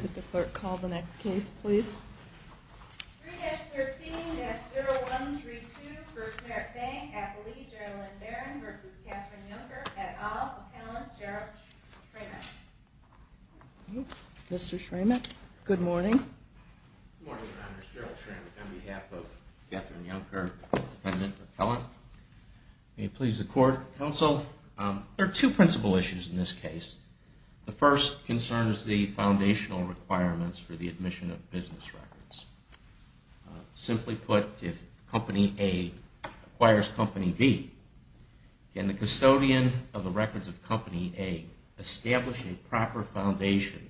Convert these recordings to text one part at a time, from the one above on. Could the clerk call the next case, please? 3-13-0132, 1st Merit Bank, N.A. v. Yunker, et al., Appellant Gerald Schrammich Mr. Schrammich, good morning. Good morning, Your Honors. Gerald Schrammich on behalf of Catherine Yunker, Appellant. May it please the Court, Counsel. There are two principal issues in this case. The first concerns the foundational requirements for the admission of business records. Simply put, if Company A acquires Company B, can the custodian of the records of Company A establish a proper foundation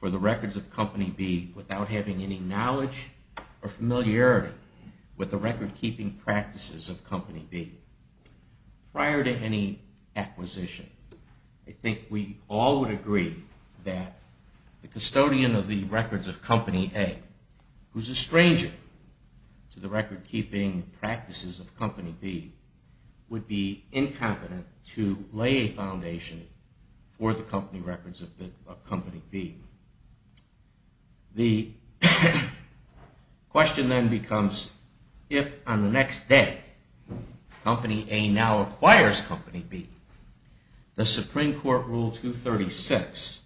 for the records of Company B without having any knowledge or familiarity with the record-keeping practices of Company B? Prior to any acquisition, I think we all would agree that the custodian of the records of Company A, who is a stranger to the record-keeping practices of Company B, would be incompetent to lay a foundation for the company records of Company B. The question then becomes, if on the next day Company A now acquires Company B, does Supreme Court Rule 236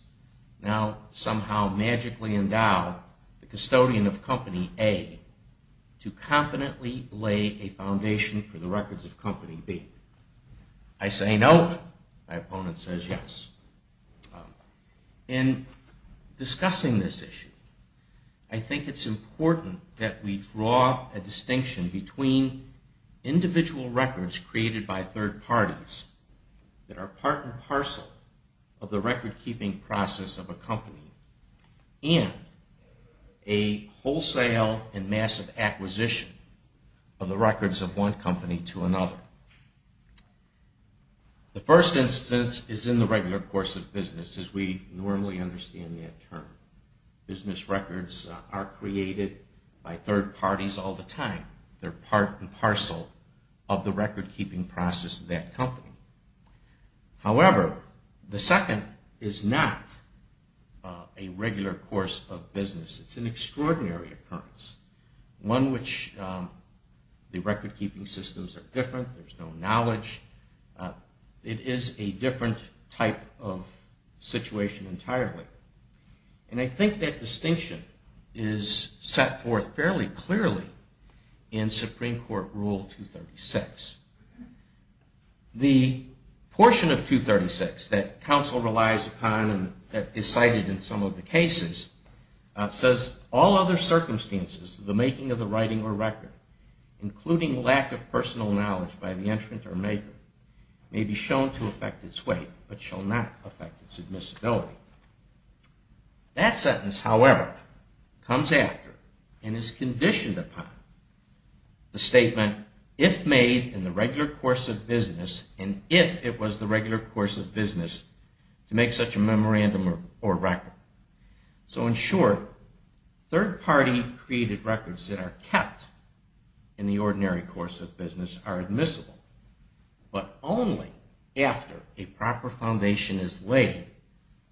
now somehow magically endow the custodian of Company A to competently lay a foundation for the records of Company B? I say no. My opponent says yes. In discussing this issue, I think it's important that we draw a distinction between individual records created by third parties that are part and parcel of the record-keeping process of a company and a wholesale and massive acquisition of the records of one company to another. The first instance is in the regular course of business, as we normally understand that term. Business records are created by third parties all the time. They're part and parcel of the record-keeping process of that company. However, the second is not a regular course of business. It's an extraordinary occurrence, one which the record-keeping systems are different. There's no knowledge. It is a different type of situation entirely. And I think that distinction is set forth fairly clearly in Supreme Court Rule 236. The portion of 236 that counsel relies upon and that is cited in some of the cases says, all other circumstances of the making of the writing or record, including lack of personal knowledge by the entrant or maker, may be shown to affect its weight, but shall not affect its admissibility. That sentence, however, comes after and is conditioned upon the statement, if made in the regular course of business and if it was the regular course of business, to make such a memorandum or record. So in short, third-party created records that are kept in the ordinary course of business are admissible, but only after a proper foundation is laid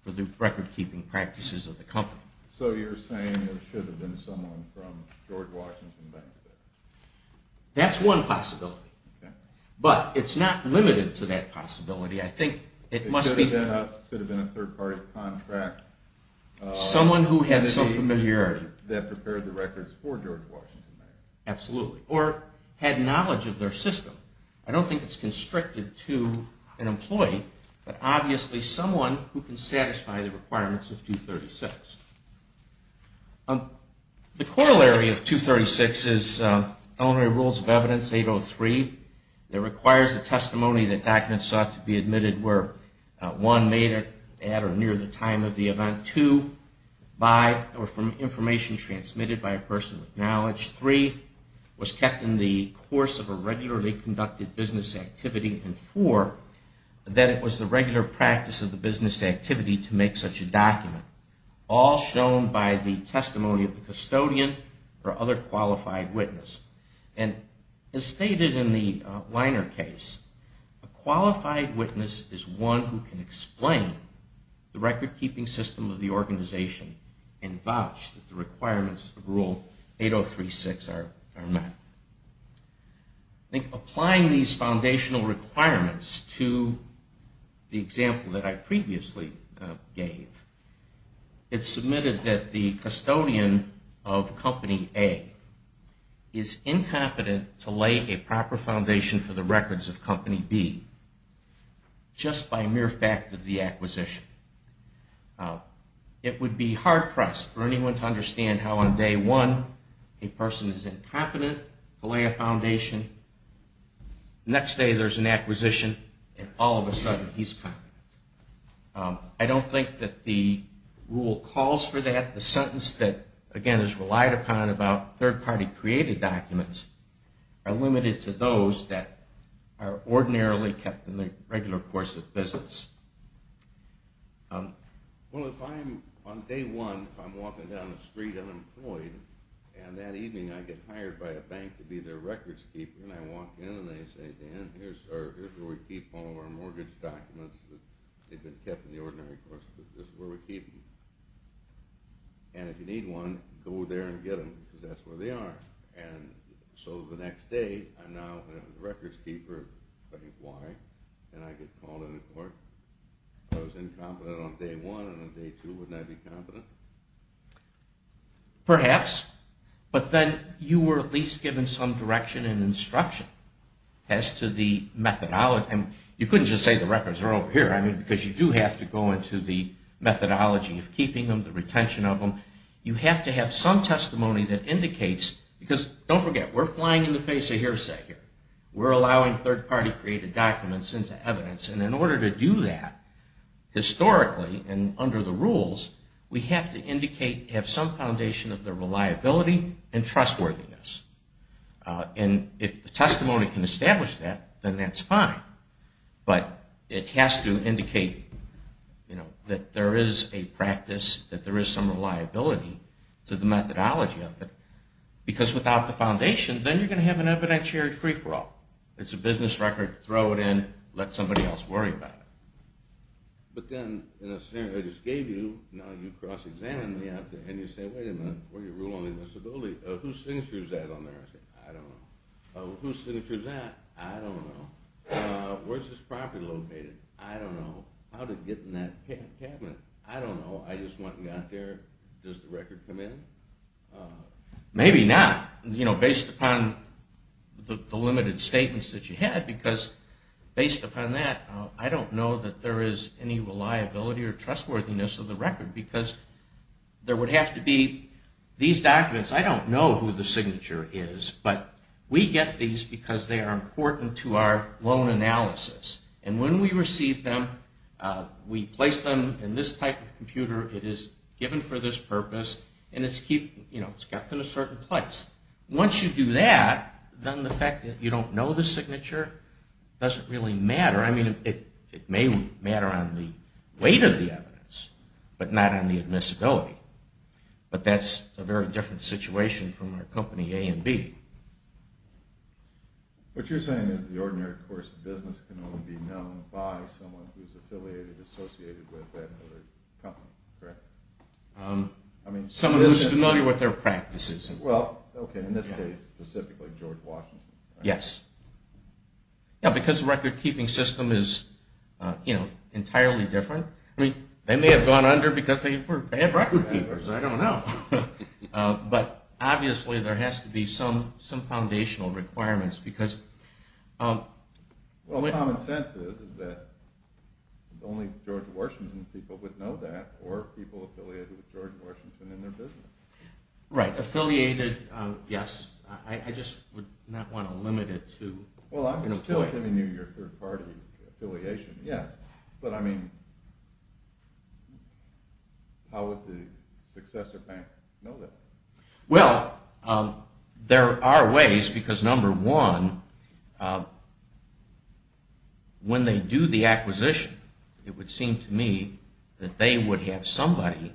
for the record-keeping practices of the company. So you're saying there should have been someone from George Washington Bank there? That's one possibility, but it's not limited to that possibility. It could have been a third-party contract entity that prepared the records for George Washington Bank. Absolutely. Or had knowledge of their system. I don't think it's constricted to an employee, but obviously someone who can satisfy the requirements of 236. The corollary of 236 is Elementary Rules of Evidence 803. It requires the testimony that documents sought to be admitted were, one, made at or near the time of the event, two, by or from information transmitted by a person with knowledge, three, was kept in the course of a regularly conducted business activity, and four, that it was the regular practice of the business activity to make such a document, all shown by the testimony of the custodian or other qualified witness. And as stated in the Liner case, a qualified witness is one who can explain the record-keeping system of the organization and vouch that the requirements of Rule 803.6 are met. I think applying these foundational requirements to the example that I previously gave, it's submitted that the custodian of Company A is incompetent to lay a proper foundation for the records of Company B, just by mere fact of the acquisition. It would be hard-pressed for anyone to understand how on day one, a person is incompetent to lay a foundation, next day there's an acquisition, and all of a sudden he's competent. I don't think that the rule calls for that. The sentence that, again, is relied upon about third-party created documents are limited to those that are ordinarily kept in the regular course of business. Well, if I'm, on day one, if I'm walking down the street unemployed, and that evening I get hired by a bank to be their records keeper, and I walk in and they say, Dan, here's where we keep all of our mortgage documents. They've been kept in the ordinary course, but this is where we keep them. And if you need one, go there and get them, because that's where they are. And so the next day, I'm now a records keeper. Why? And I get called into court. If I was incompetent on day one and on day two, wouldn't I be competent? Perhaps. But then you were at least given some direction and instruction as to the methodology. You couldn't just say the records are over here, because you do have to go into the methodology of keeping them, the retention of them. You have to have some testimony that indicates, because don't forget, we're flying in the face of hearsay here. We're allowing third-party created documents into evidence. And in order to do that, historically and under the rules, we have to indicate, have some foundation of the reliability and trustworthiness. And if the testimony can establish that, then that's fine. But it has to indicate that there is a practice, that there is some reliability to the methodology of it, because without the foundation, then you're going to have an evidentiary free-for-all. It's a business record. Throw it in. Let somebody else worry about it. But then, in a scenario I just gave you, now you cross-examine me out there, and you say, wait a minute, what are your rule-only disabilities? Whose signature is that on there? I say, I don't know. Whose signature is that? I don't know. Where's this property located? I don't know. How did it get in that cabinet? I don't know. I just went and got there. Does the record come in? Maybe not, based upon the limited statements that you had, because based upon that, I don't know that there is any reliability or trustworthiness of the record, because there would have to be these documents. I don't know who the signature is, but we get these because they are important to our loan analysis. And when we receive them, we place them in this type of place. Once you do that, then the fact that you don't know the signature doesn't really matter. I mean, it may matter on the weight of the evidence, but not on the admissibility. But that's a very different situation from our company A and B. What you're saying is the ordinary course of business can only be known by someone who's affiliated, associated with that other company, correct? Someone who's familiar with their practices. Well, okay, in this case, specifically George Washington. Yes. Yeah, because the record-keeping system is entirely different. I mean, they may have gone under because they were bad record-keepers, I don't know. But obviously there has to be some foundational requirements. Well, common sense is that only George Washington's people would know that, or people affiliated with George Washington in their business. Right. Affiliated, yes. I just would not want to limit it to... Well, I'm still giving you your third-party affiliation, yes. But, I mean, how would the successor bank know that? Well, there are ways because, number one, when they do the acquisition, it would seem to me that they would have somebody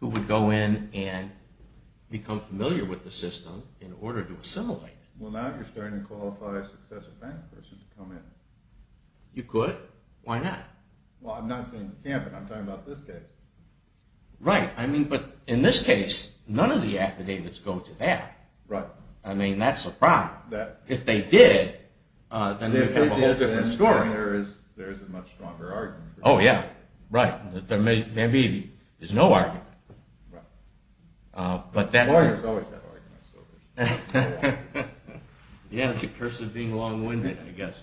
who would go in and become familiar with the system in order to assimilate. Well, now you're starting to qualify a successor bank person to come in. You could. Why not? Well, I'm not saying you can't, but I'm talking about this case. Right. I mean, but in this case, none of the affidavits go to that. Right. I mean, that's the problem. If they did, then we'd have a whole different story. At this point, there is a much stronger argument. Oh, yeah. Right. There is no argument. But lawyers always have arguments. Yeah, it's a curse of being long-winded, I guess.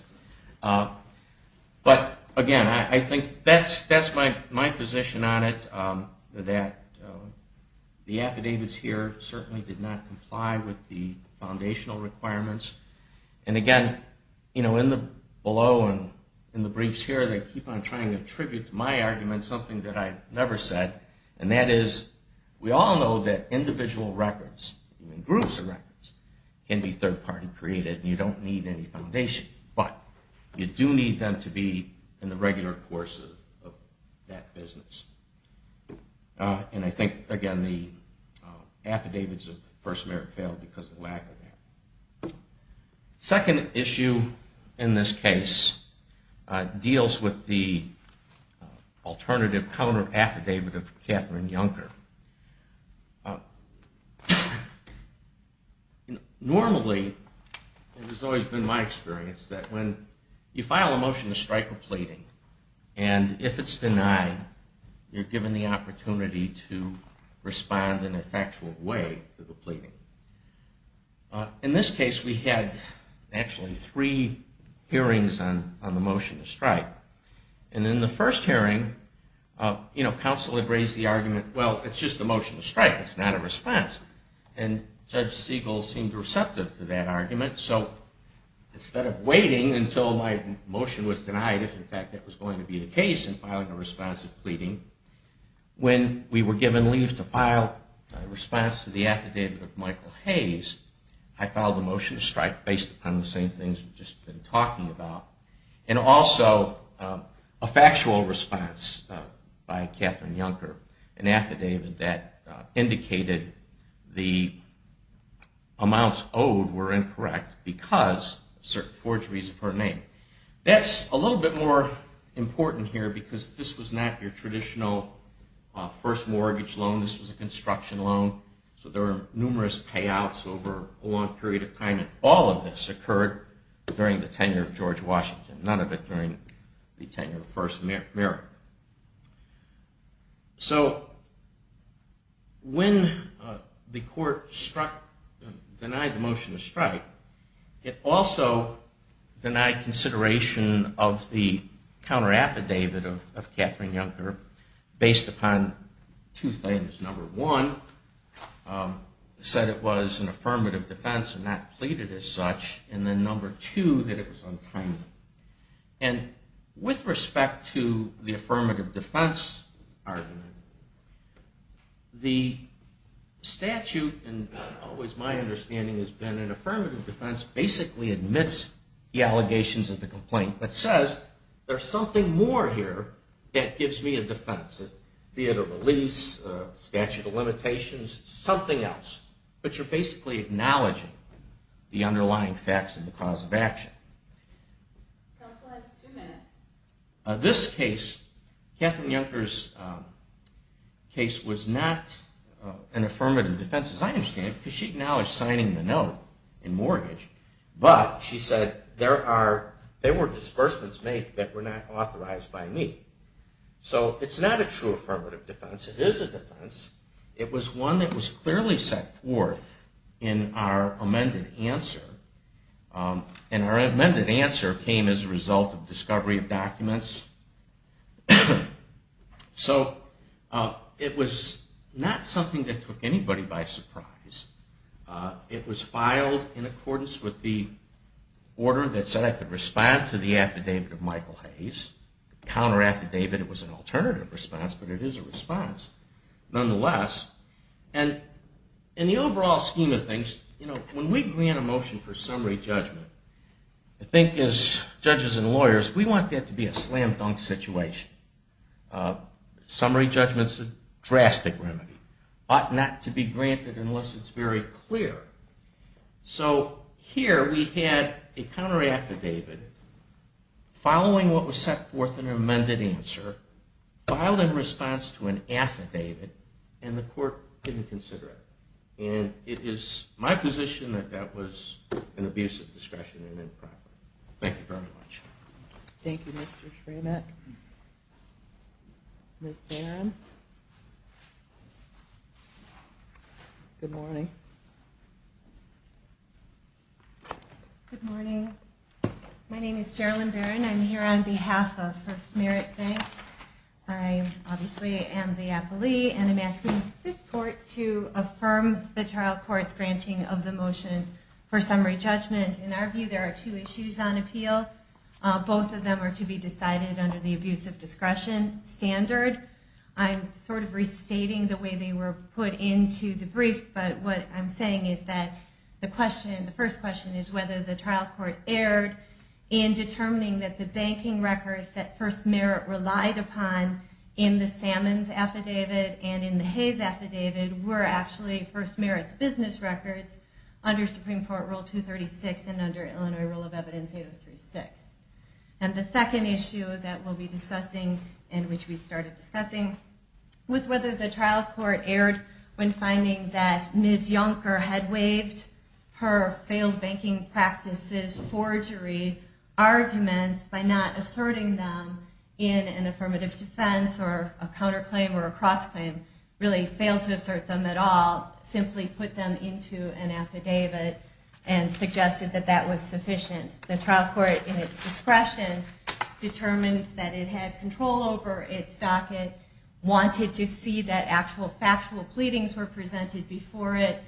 But, again, I think that's my position on it, that the affidavits here certainly did not comply with the foundational requirements. And, again, you know, in the below and in the briefs here, they keep on trying to attribute to my argument something that I never said, and that is we all know that individual records, even groups of records, can be third-party created, and you don't need any foundation. But you do need them to be in the regular course of that business. And I think, again, the affidavits of First Merit failed because of Wagner. Second issue in this case deals with the alternative counter-affidavit of Catherine Juncker. Normally, it has always been my experience that when you file a motion to strike a pleading, and if it's denied, you're given the opportunity to respond in a factual way to the pleading. In this case, we had actually three hearings on the motion to strike. And in the first hearing, you know, counsel had raised the argument, well, it's just a motion to strike. It's not a response. And Judge Siegel seemed receptive to that argument. So instead of waiting until my motion was denied, if in fact that was going to be the case in filing a response to pleading, when we were given leave to file a response to the affidavit of Michael Hayes, I filed a motion to strike based upon the same things we've just been talking about, and also a factual response by Catherine Juncker, an affidavit that indicated the amounts owed were incorrect because of certain forgeries of her name. That's a little bit more important here because this was not your traditional first mortgage loan. This was a construction loan, so there were numerous payouts over a long period of time, and all of this occurred during the tenure of George Washington, none of it during the tenure of the first American. So when the court denied the motion to strike, it also denied consideration of the counteraffidavit of Catherine Juncker based upon two things. Number one, it said it was an affirmative defense and not pleaded as such. And then number two, that it was untimely. And with respect to the affirmative defense argument, the statute, and always my understanding has been an affirmative defense, basically admits the allegations of the complaint, but says there's something more here that gives me a defense, a theater release, a statute of limitations, something else. But you're basically acknowledging the underlying facts and the cause of action. This case, Catherine Juncker's case was not an affirmative defense as I understand it because she acknowledged signing the note in mortgage, but she said there were disbursements made that were not authorized by me. So it's not a true affirmative defense. It is a defense. It was one that was clearly set forth in our amended answer. And our amended answer came as a result of discovery of documents. So it was not something that took anybody by surprise. It was filed in accordance with the order that said I could respond to the affidavit of Michael Hayes. The counter affidavit, it was an alternative response, but it is a response nonetheless. And in the overall scheme of things, when we grant a motion for summary judgment, I think as judges and lawyers, we want that to be a slam dunk situation. Summary judgment's a drastic remedy. Ought not to be granted unless it's very clear. So here we had a counter affidavit following what was set forth in our amended answer, filed in response to an affidavit, and the court didn't consider it. And it is my position that that was an abuse of discretion and improper. Thank you very much. Thank you, Mr. Schramet. Ms. Barron. Good morning. Good morning. My name is Gerilyn Barron. I'm here on behalf of First Merit Bank. I obviously am the appellee, and I'm asking this court to affirm the trial court's granting of the motion for summary judgment. In our view, there are two issues on appeal. Both of them are to be decided under the abuse of discretion standard. I'm sort of restating the way they were put into the briefs, but what I'm saying is that the first question is whether the trial court erred in determining that the banking records that First Merit relied upon in the Salmon's affidavit and in the Hayes affidavit were actually First Merit's business records under Supreme Court Rule 236 and under Illinois Rule of Evidence 8036. And the second issue that we'll be discussing and which we started discussing was whether the trial court erred when finding that Ms. Yonker had waived her failed banking practices forgery arguments by not asserting them in an affirmative defense or a counterclaim or a cross-claim, really failed to assert them at all, simply put them into an affidavit and suggested that that was sufficient. The trial court, in its discretion, determined that it had control over its docket, wanted to see that actual factual pleadings were presented before it,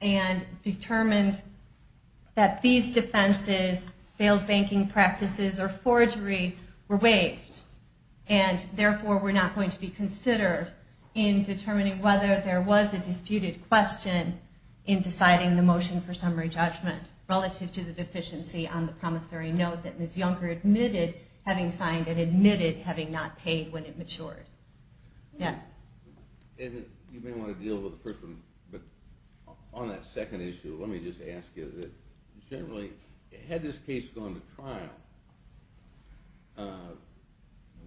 and determined that these defenses, failed banking practices or forgery, were waived. And therefore, we're not going to be considered in determining whether there was a disputed question in deciding the motion for summary judgment relative to the deficiency on the promissory note that Ms. Yonker admitted having signed and admitted having not paid when it matured. Yes? You may want to deal with the first one, but on that second issue, let me just ask you that generally, had this case gone to trial,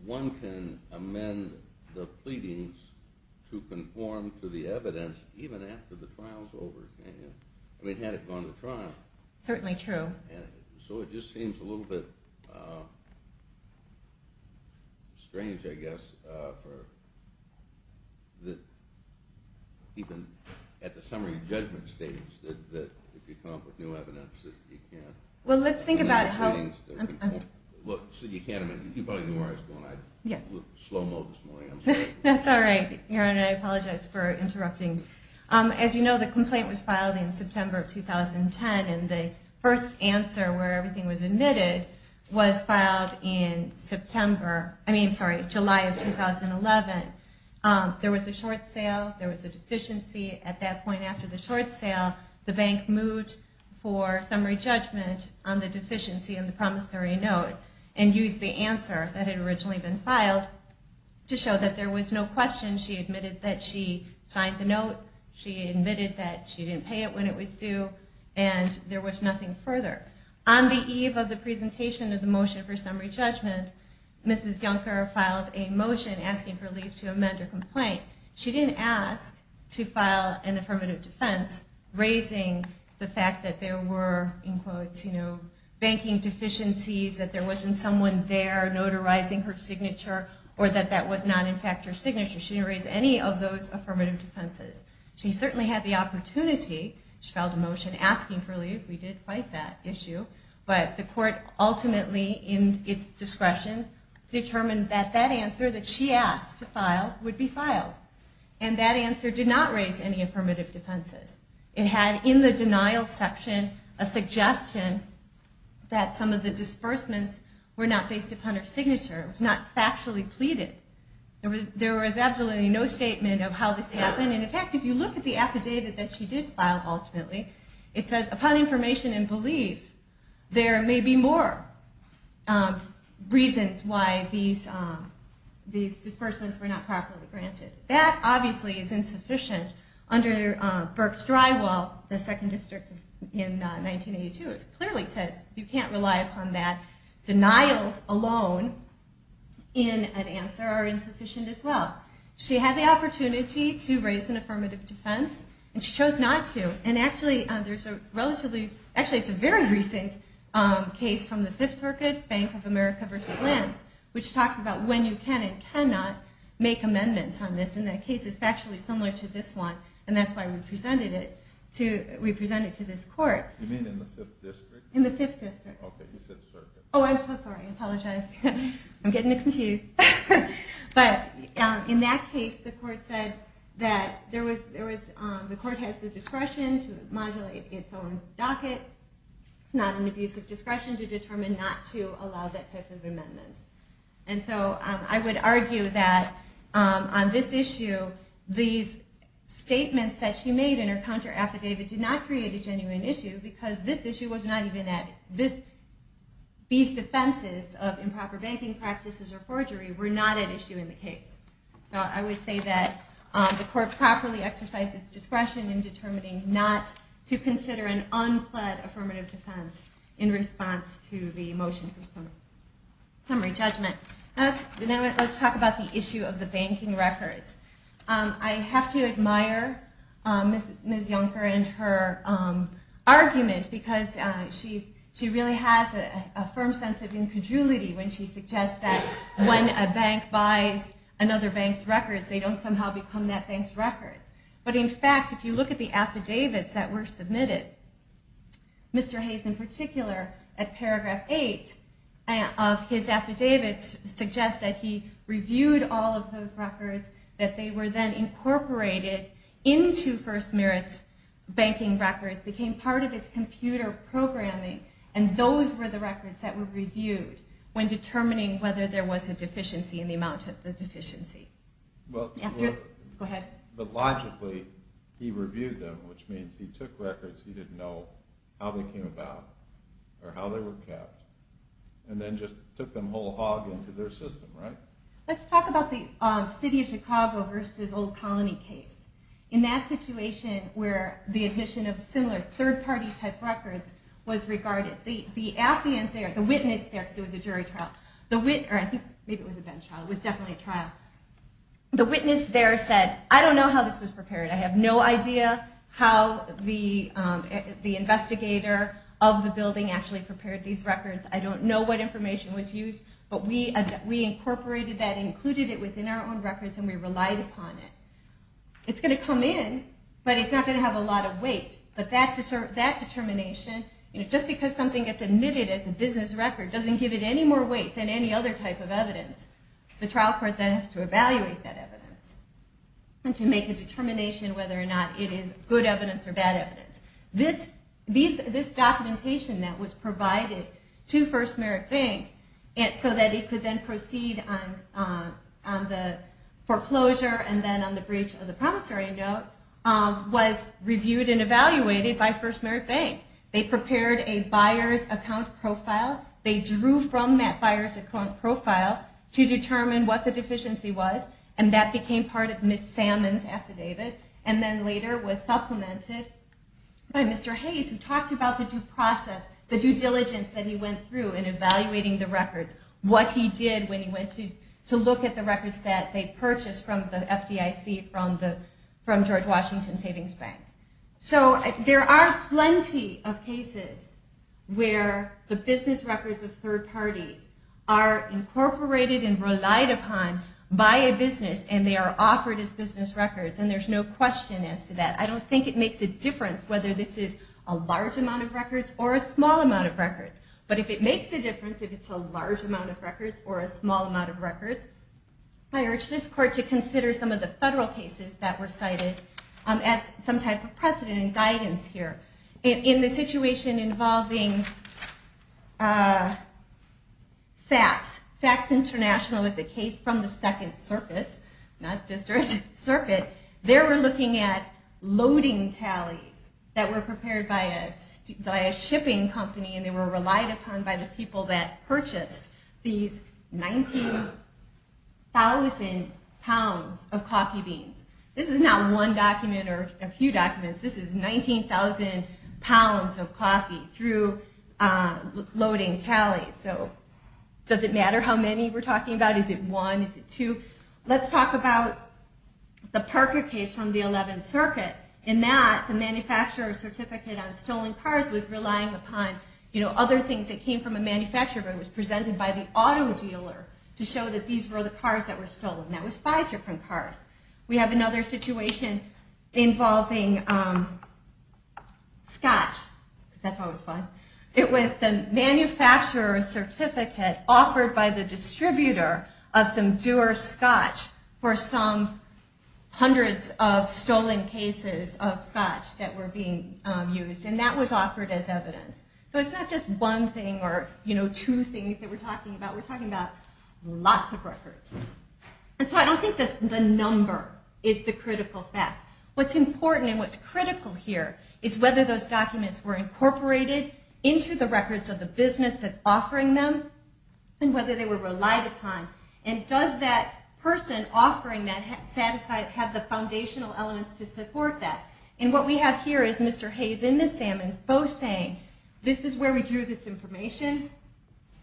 one can amend the pleadings to conform to the evidence even after the trial's over, can't you? I mean, had it gone to trial. Certainly true. So it just seems a little bit strange, I guess, that even at the summary judgment stage, that if you come up with new evidence that you can't... Well, let's think about how... You probably know where I was going. I was in slow-mo this morning. That's all right, Aaron. I apologize for interrupting. As you know, the complaint was filed in September of 2010, and the first answer where everything was admitted was filed in July of 2011. There was a short sale, there was a deficiency. At that point after the short sale, the bank moved for summary judgment on the deficiency on the promissory note and used the answer that had originally been filed to show that there was no question. She admitted that she signed the note, she admitted that she didn't pay it when it was due, and there was nothing further. On the eve of the presentation of the motion for summary judgment, Mrs. Juncker filed a motion asking for leave to amend her complaint. She didn't ask to file an affirmative defense raising the fact that there were, in quotes, you know, banking deficiencies, that there wasn't someone there notarizing her signature, or that that was not, in fact, her signature. She didn't raise any of those affirmative defenses. She certainly had the opportunity. She filed a motion asking for leave. We did fight that issue. But the court ultimately, in its discretion, determined that that answer that she asked to file would be filed. And that answer did not raise any affirmative defenses. It had in the denial section a suggestion that some of the disbursements were not based upon her signature. It was not factually pleaded. There was absolutely no statement of how this happened. And in fact, if you look at the affidavit that she did file ultimately, it says, upon information and belief, there may be more reasons why these disbursements were not properly granted. That, obviously, is insufficient under Burke's drywall, the second district in 1982. It clearly says you can't rely upon that. Denials alone in an answer are insufficient as well. She had the opportunity to raise an affirmative defense, and she chose not to. And actually, it's a very recent case from the Fifth Circuit, Bank of America v. Lance, which talks about when you can and cannot make amendments on this. And that case is factually similar to this one, and that's why we presented it to this court. You mean in the fifth district? In the fifth district. Okay, you said circuit. Oh, I'm so sorry. I apologize. I'm getting confused. But in that case, the court said that the court has the discretion to modulate its own docket. It's not an abuse of discretion to determine not to allow that type of amendment. And so I would argue that on this issue, these statements that she made in her counter affidavit did not create a genuine issue because this issue was not even added. These defenses of improper banking practices or forgery were not at issue in the case. So I would say that the court properly exercised its discretion in determining not to consider an unplaid affirmative defense in response to the motion for summary judgment. Now let's talk about the issue of the banking records. I have to admire Ms. Yonker and her argument because she really has a firm sense of incongruity when she suggests that when a bank buys another bank's records, they don't somehow become that bank's records. But in fact, if you look at the affidavits that were submitted, Mr. Hayes in particular, at paragraph 8 of his affidavit suggests that he reviewed all of those records, that they were then incorporated into First Merit's banking records, became part of its computer programming, and those were the records that were reviewed when determining whether there was a deficiency in the amount of the deficiency. But logically, he reviewed them, which means he took records he didn't know how they came about or how they were kept, and then just took them whole hog into their system, right? Let's talk about the City of Chicago v. Old Colony case. In that situation where the admission of similar third-party type records was regarded, the witness there said, I don't know how this was prepared. I have no idea how the investigator of the building actually prepared these records. I don't know what information was used. But we incorporated that, included it within our own records, and we relied upon it. It's going to come in, but it's not going to have a lot of weight. But that determination, just because something gets admitted as a business record doesn't give it any more weight than any other type of evidence. The trial court then has to evaluate that evidence and to make a determination whether or not it is good evidence or bad evidence. This documentation that was provided to First Merit Bank so that it could then proceed on the foreclosure and then on the breach of the promissory note was reviewed and evaluated by First Merit Bank. They prepared a buyer's account profile. They drew from that buyer's account profile to determine what the deficiency was, and that became part of Ms. Salmon's affidavit. And then later was supplemented by Mr. Hayes, who talked about the due process, the due diligence that he went through in evaluating the records, what he did when he went to look at the records that they purchased from the FDIC, from George Washington Savings Bank. So there are plenty of cases where the business records of third parties are incorporated and relied upon by a business, and they are offered as business records. And there's no question as to that. I don't think it makes a difference whether this is a large amount of records or a small amount of records. But if it makes a difference, if it's a large amount of records or a small amount of records, I urge this court to consider some of the federal cases that were cited as some type of precedent and guidance here. In the situation involving Saks, Saks International is a case from the Second Circuit, not District Circuit. They were looking at loading tallies that were prepared by a shipping company, and they were relied upon by the people that purchased these 19,000 pounds of coffee beans. This is not one document or a few documents. This is 19,000 pounds of coffee through loading tallies. So does it matter how many we're talking about? Is it one? Is it two? Let's talk about the Parker case from the Eleventh Circuit. In that, the manufacturer's certificate on stolen cars was relying upon other things that came from a manufacturer, but it was presented by the auto dealer to show that these were the cars that were stolen. That was five different cars. We have another situation involving Scotch. That's always fun. It was the manufacturer's certificate offered by the distributor of some Dewar Scotch for some hundreds of stolen cases of Scotch that were being used, and that was offered as evidence. So it's not just one thing or two things that we're talking about. We're talking about lots of records. And so I don't think the number is the critical fact. What's important and what's critical here is whether those documents were incorporated into the records of the business that's offering them and whether they were relied upon. And does that person offering that have the foundational elements to support that? And what we have here is Mr. Hayes and Ms. Sammons both saying, this is where we drew this information.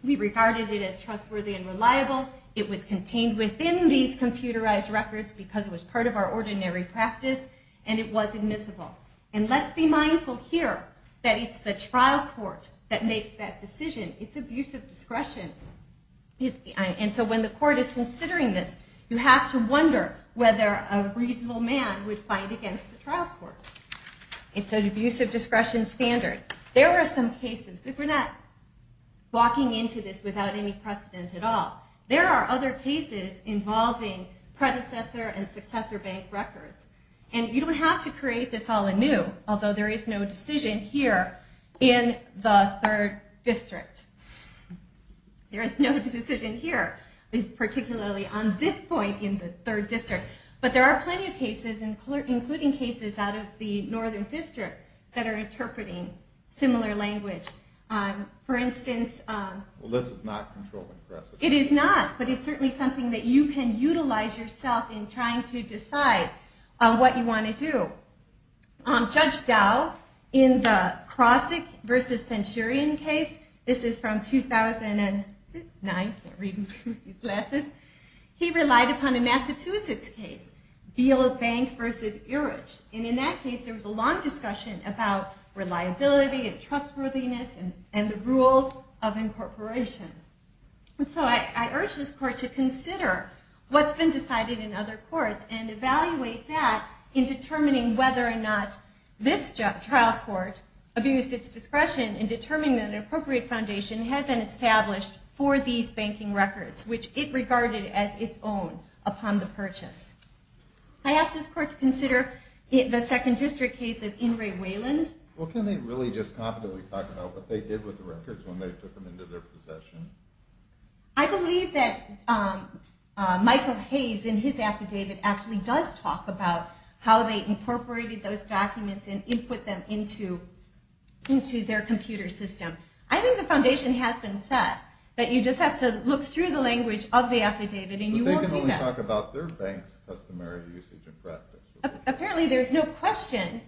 We regarded it as trustworthy and reliable. It was contained within these computerized records because it was part of our ordinary practice, and it was admissible. And let's be mindful here that it's the trial court that makes that decision. It's abuse of discretion. And so when the court is considering this, you have to wonder whether a reasonable man would fight against the trial court. It's an abuse of discretion standard. There were some cases, but we're not walking into this without any precedent at all. There are other cases involving predecessor and successor bank records. And you don't have to create this all anew, although there is no decision here in the third district. There is no decision here, particularly on this point in the third district. But there are plenty of cases, including cases out of the northern district, that are interpreting similar language. For instance, it is not, but it's certainly something that you can utilize yourself in trying to decide what you want to do. Judge Dow, in the Crossick versus Centurion case, this is from 2009, can't read through these glasses, he relied upon a Massachusetts case, Beale Bank versus Erich. And in that case, there was a long discussion about reliability and trustworthiness and the rule of incorporation. And so I urge this court to consider what's been decided in other courts and evaluate that in determining whether or not this trial court abused its discretion in determining that an appropriate foundation had been established for these banking records, which it regarded as its own upon the purchase. I ask this court to consider the second district case of Ingray Wayland. Well, can they really just confidently talk about what they did with the records when they took them into their possession? I believe that Michael Hayes, in his affidavit, actually does talk about how they incorporated those documents and input them into their computer system. I think the foundation has been set that you just have to look through the language of the affidavit and you will see that. But they can only talk about their bank's customary usage and practice. Apparently there's no question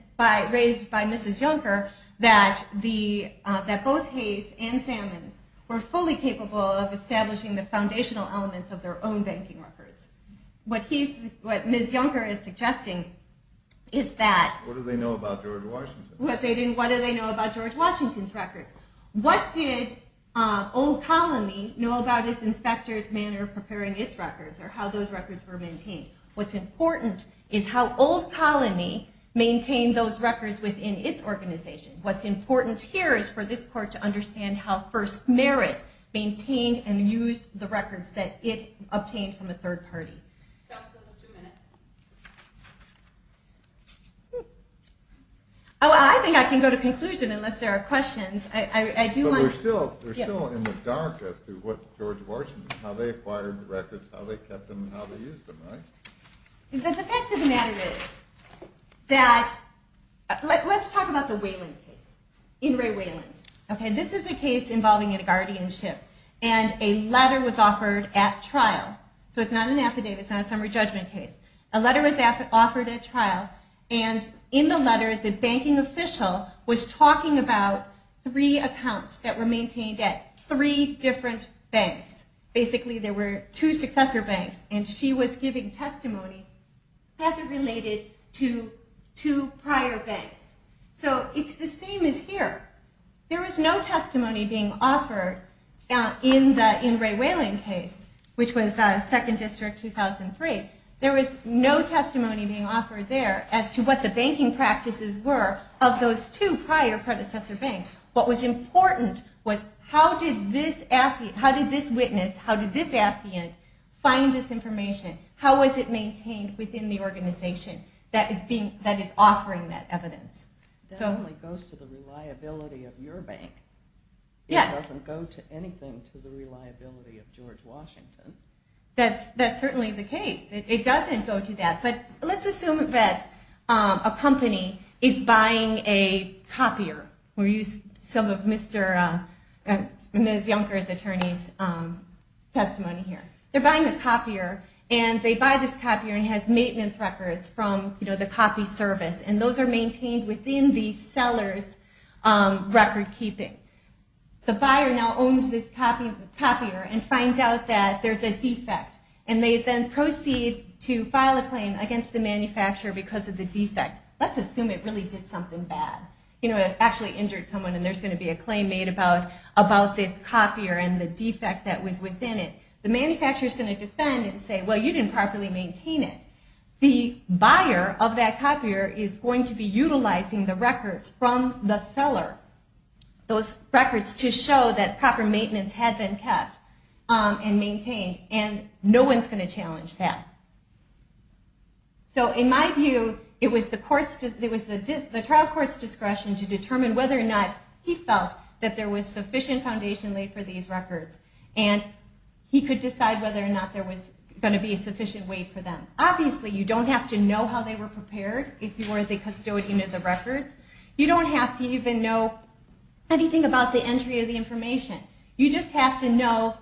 raised by Mrs. Juncker that both Hayes and Sammons were fully capable of establishing the foundational elements of their own banking records. What Ms. Juncker is suggesting is that... What do they know about George Washington? What do they know about George Washington's records? What did Old Colony know about its inspector's manner of preparing its records or how those records were maintained? What's important is how Old Colony maintained those records within its organization. What's important here is for this court to understand how First Merit maintained and used the records that it obtained from a third party. Counsel, two minutes. Oh, I think I can go to conclusion unless there are questions. I do want... But we're still in the dark as to what George Washington... How they acquired records, how they kept them, and how they used them, right? The fact of the matter is that... Let's talk about the Wayland case. In Ray Wayland. This is a case involving a guardianship and a letter was offered at trial. So it's not an affidavit, it's not a summary judgment case. A letter was offered at trial and in the letter the banking official was talking about three accounts that were maintained at three different banks. Basically there were two successor banks and she was giving testimony as it related to two prior banks. So it's the same as here. There was no testimony being offered in the Ray Wayland case, which was Second District 2003. There was no testimony being offered there as to what the banking practices were of those two prior predecessor banks. What was important was how did this witness, how did this affiant find this information? How was it maintained within the organization that is offering that evidence? That only goes to the reliability of your bank. It doesn't go to anything to the reliability of George Washington. That's certainly the case. It doesn't go to that. But let's assume that a company is buying a copier. We'll use some of Ms. Yonker's attorney's testimony here. They're buying a copier and they buy this copier and it has maintenance records from the copy service. And those are maintained within the seller's record keeping. The buyer now owns this copier and finds out that there's a defect and they then proceed to file a claim against the manufacturer because of the defect. Let's assume it really did something bad. It actually injured someone and there's going to be a claim made about this copier and the defect that was within it. The manufacturer is going to defend and say, well, you didn't properly maintain it. The buyer of that copier is going to be utilizing the records from the seller, those records to show that proper maintenance had been kept and maintained and no one's going to challenge that. So in my view, it was the trial court's discretion to determine whether or not he felt that there was sufficient foundation laid for these records and he could decide whether or not there was going to be a sufficient weight for them. Obviously, you don't have to know how they were prepared if you were the custodian of the records. You don't have to even know anything about the entry of the information. You just have to know,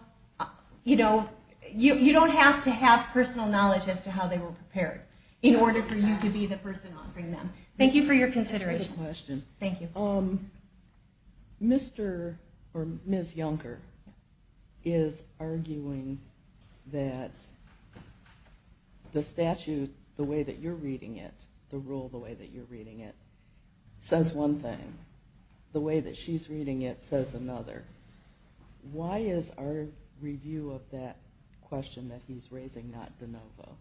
you know, you don't have to have personal knowledge as to how they were prepared in order for you to be the person offering them. Thank you for your consideration. That's a great question. Thank you. Mr. or Ms. Yonker is arguing that the statute, the way that you're reading it, the rule the way that you're reading it, says one thing. The way that she's reading it says another. Why is our review of that question that he's raising not de novo?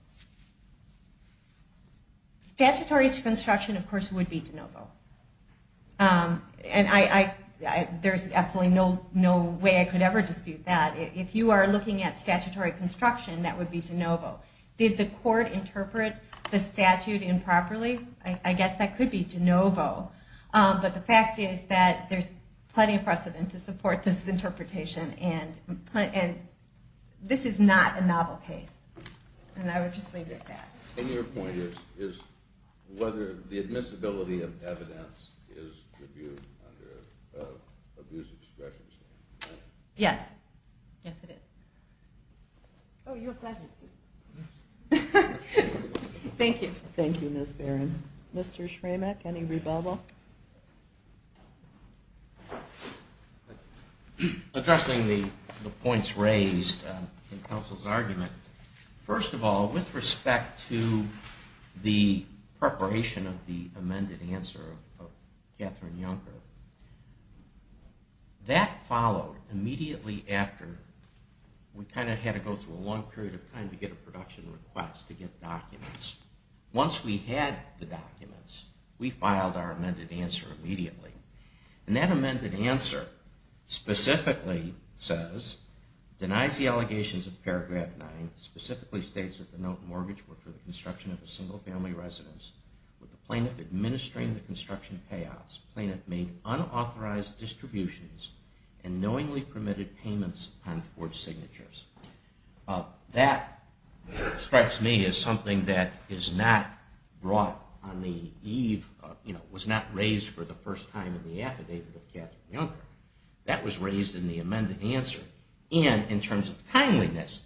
Statutory construction, of course, would be de novo. And there's absolutely no way I could ever dispute that. If you are looking at statutory construction, that would be de novo. Did the court interpret the statute improperly? I guess that could be de novo. But the fact is that there's plenty of precedent to support this interpretation. And this is not a novel case. And I would just leave it at that. And your point is whether the admissibility of evidence is reviewed under abuse of discretion. Yes. Yes, it is. Oh, you're a pleasure. Yes. Thank you. Thank you, Ms. Barron. Mr. Schramek, any rebuttal? Addressing the points raised in counsel's argument, first of all, with respect to the preparation of the amended answer of Katherine Juncker, that followed immediately after we kind of had to go through a long period of time to get a production request to get documents. Once we had the documents, we filed our amended answer immediately. And that amended answer specifically says, denies the allegations of Paragraph 9, specifically states that the note mortgage were for the construction of a single family residence with the plaintiff administering the construction payouts. The plaintiff made unauthorized distributions and knowingly permitted payments on forged signatures. That strikes me as something that is not brought on the eve, was not raised for the first time in the affidavit of Katherine Juncker. That was raised in the amended answer. And in terms of timeliness,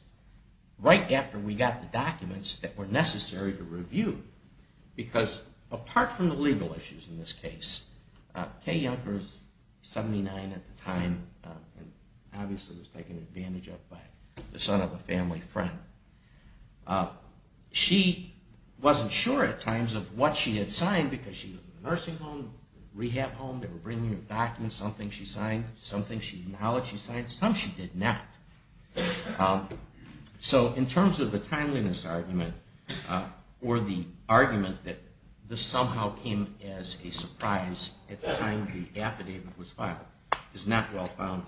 right after we got the documents that were necessary to review, because apart from the legal issues in this case, Kaye Juncker is 79 at the time and obviously was taken advantage of by the son of a family friend. She wasn't sure at times of what she had signed because she was in a nursing home, rehab home, they were bringing her documents, some things she signed, some things she acknowledged she signed, some she did not. So in terms of the timeliness argument or the argument that this somehow came as a surprise at the time the affidavit was filed is not well founded.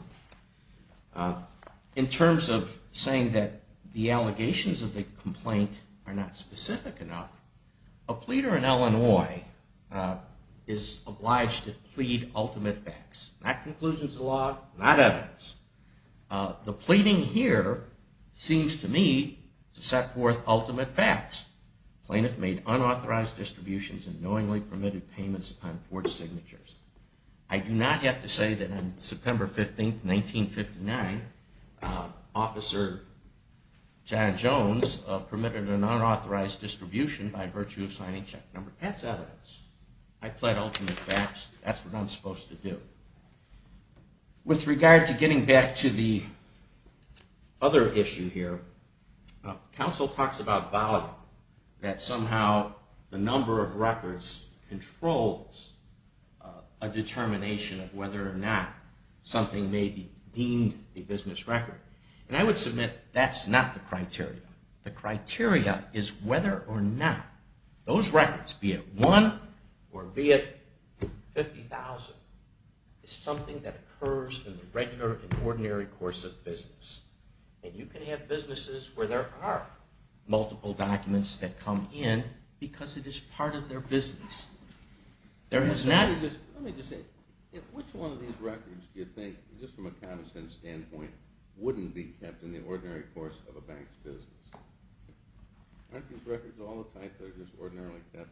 In terms of saying that the allegations of the complaint are not specific enough, a pleader in Illinois is obliged to plead ultimate facts. Not conclusions of law, not evidence. The pleading here seems to me to set forth ultimate facts. Plaintiff made unauthorized distributions and knowingly permitted payments upon forged signatures. I do not have to say that on September 15, 1959, Officer John Jones permitted an unauthorized distribution by virtue of signing check number 10. That's evidence. I plead ultimate facts. That's what I'm supposed to do. With regard to getting back to the other issue here, counsel talks about value, that somehow the number of records controls a determination of whether or not something may be deemed a business record. And I would submit that's not the criteria. The criteria is whether or not those records, be it one or be it 50,000, is something that occurs in the regular and ordinary course of business. And you can have businesses where there are multiple documents that come in because it is part of their business. Let me just say, which one of these records do you think, just from a common sense standpoint, wouldn't be kept in the ordinary course of a bank's business? Aren't these records all the type that are just ordinarily kept?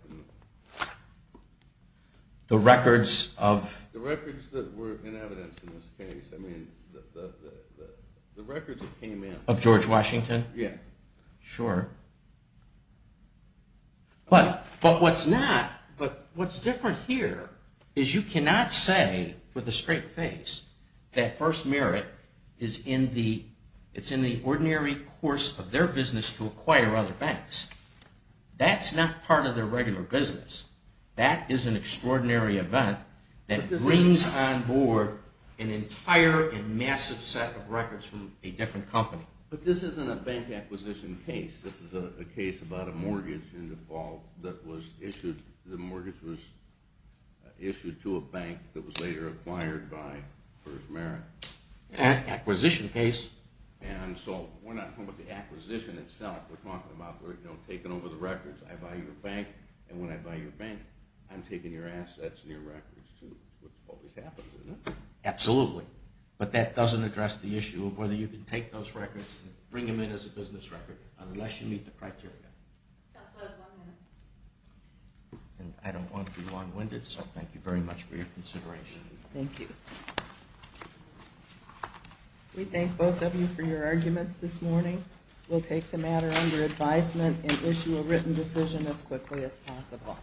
The records of? The records that were in evidence in this case. I mean, the records that came in. Of George Washington? Yeah. Sure. But what's not, what's different here is you cannot say with a straight face that first merit is in the ordinary course of their business to acquire other banks. That's not part of their regular business. That is an extraordinary event that brings on board an entire and massive set of records from a different company. But this isn't a bank acquisition case. This is a case about a mortgage in the fall that was issued. The mortgage was issued to a bank that was later acquired by first merit. An acquisition case. We're not talking about the acquisition itself. We're talking about taking over the records. I buy your bank, and when I buy your bank, I'm taking your assets and your records too, which always happens, isn't it? Absolutely. But that doesn't address the issue of whether you can take those records and bring them in as a business record unless you meet the criteria. That's what I was wondering. I don't want to be long-winded, so thank you very much for your consideration. Thank you. We thank both of you for your arguments this morning. We'll take the matter under advisement and issue a written decision as quickly as possible.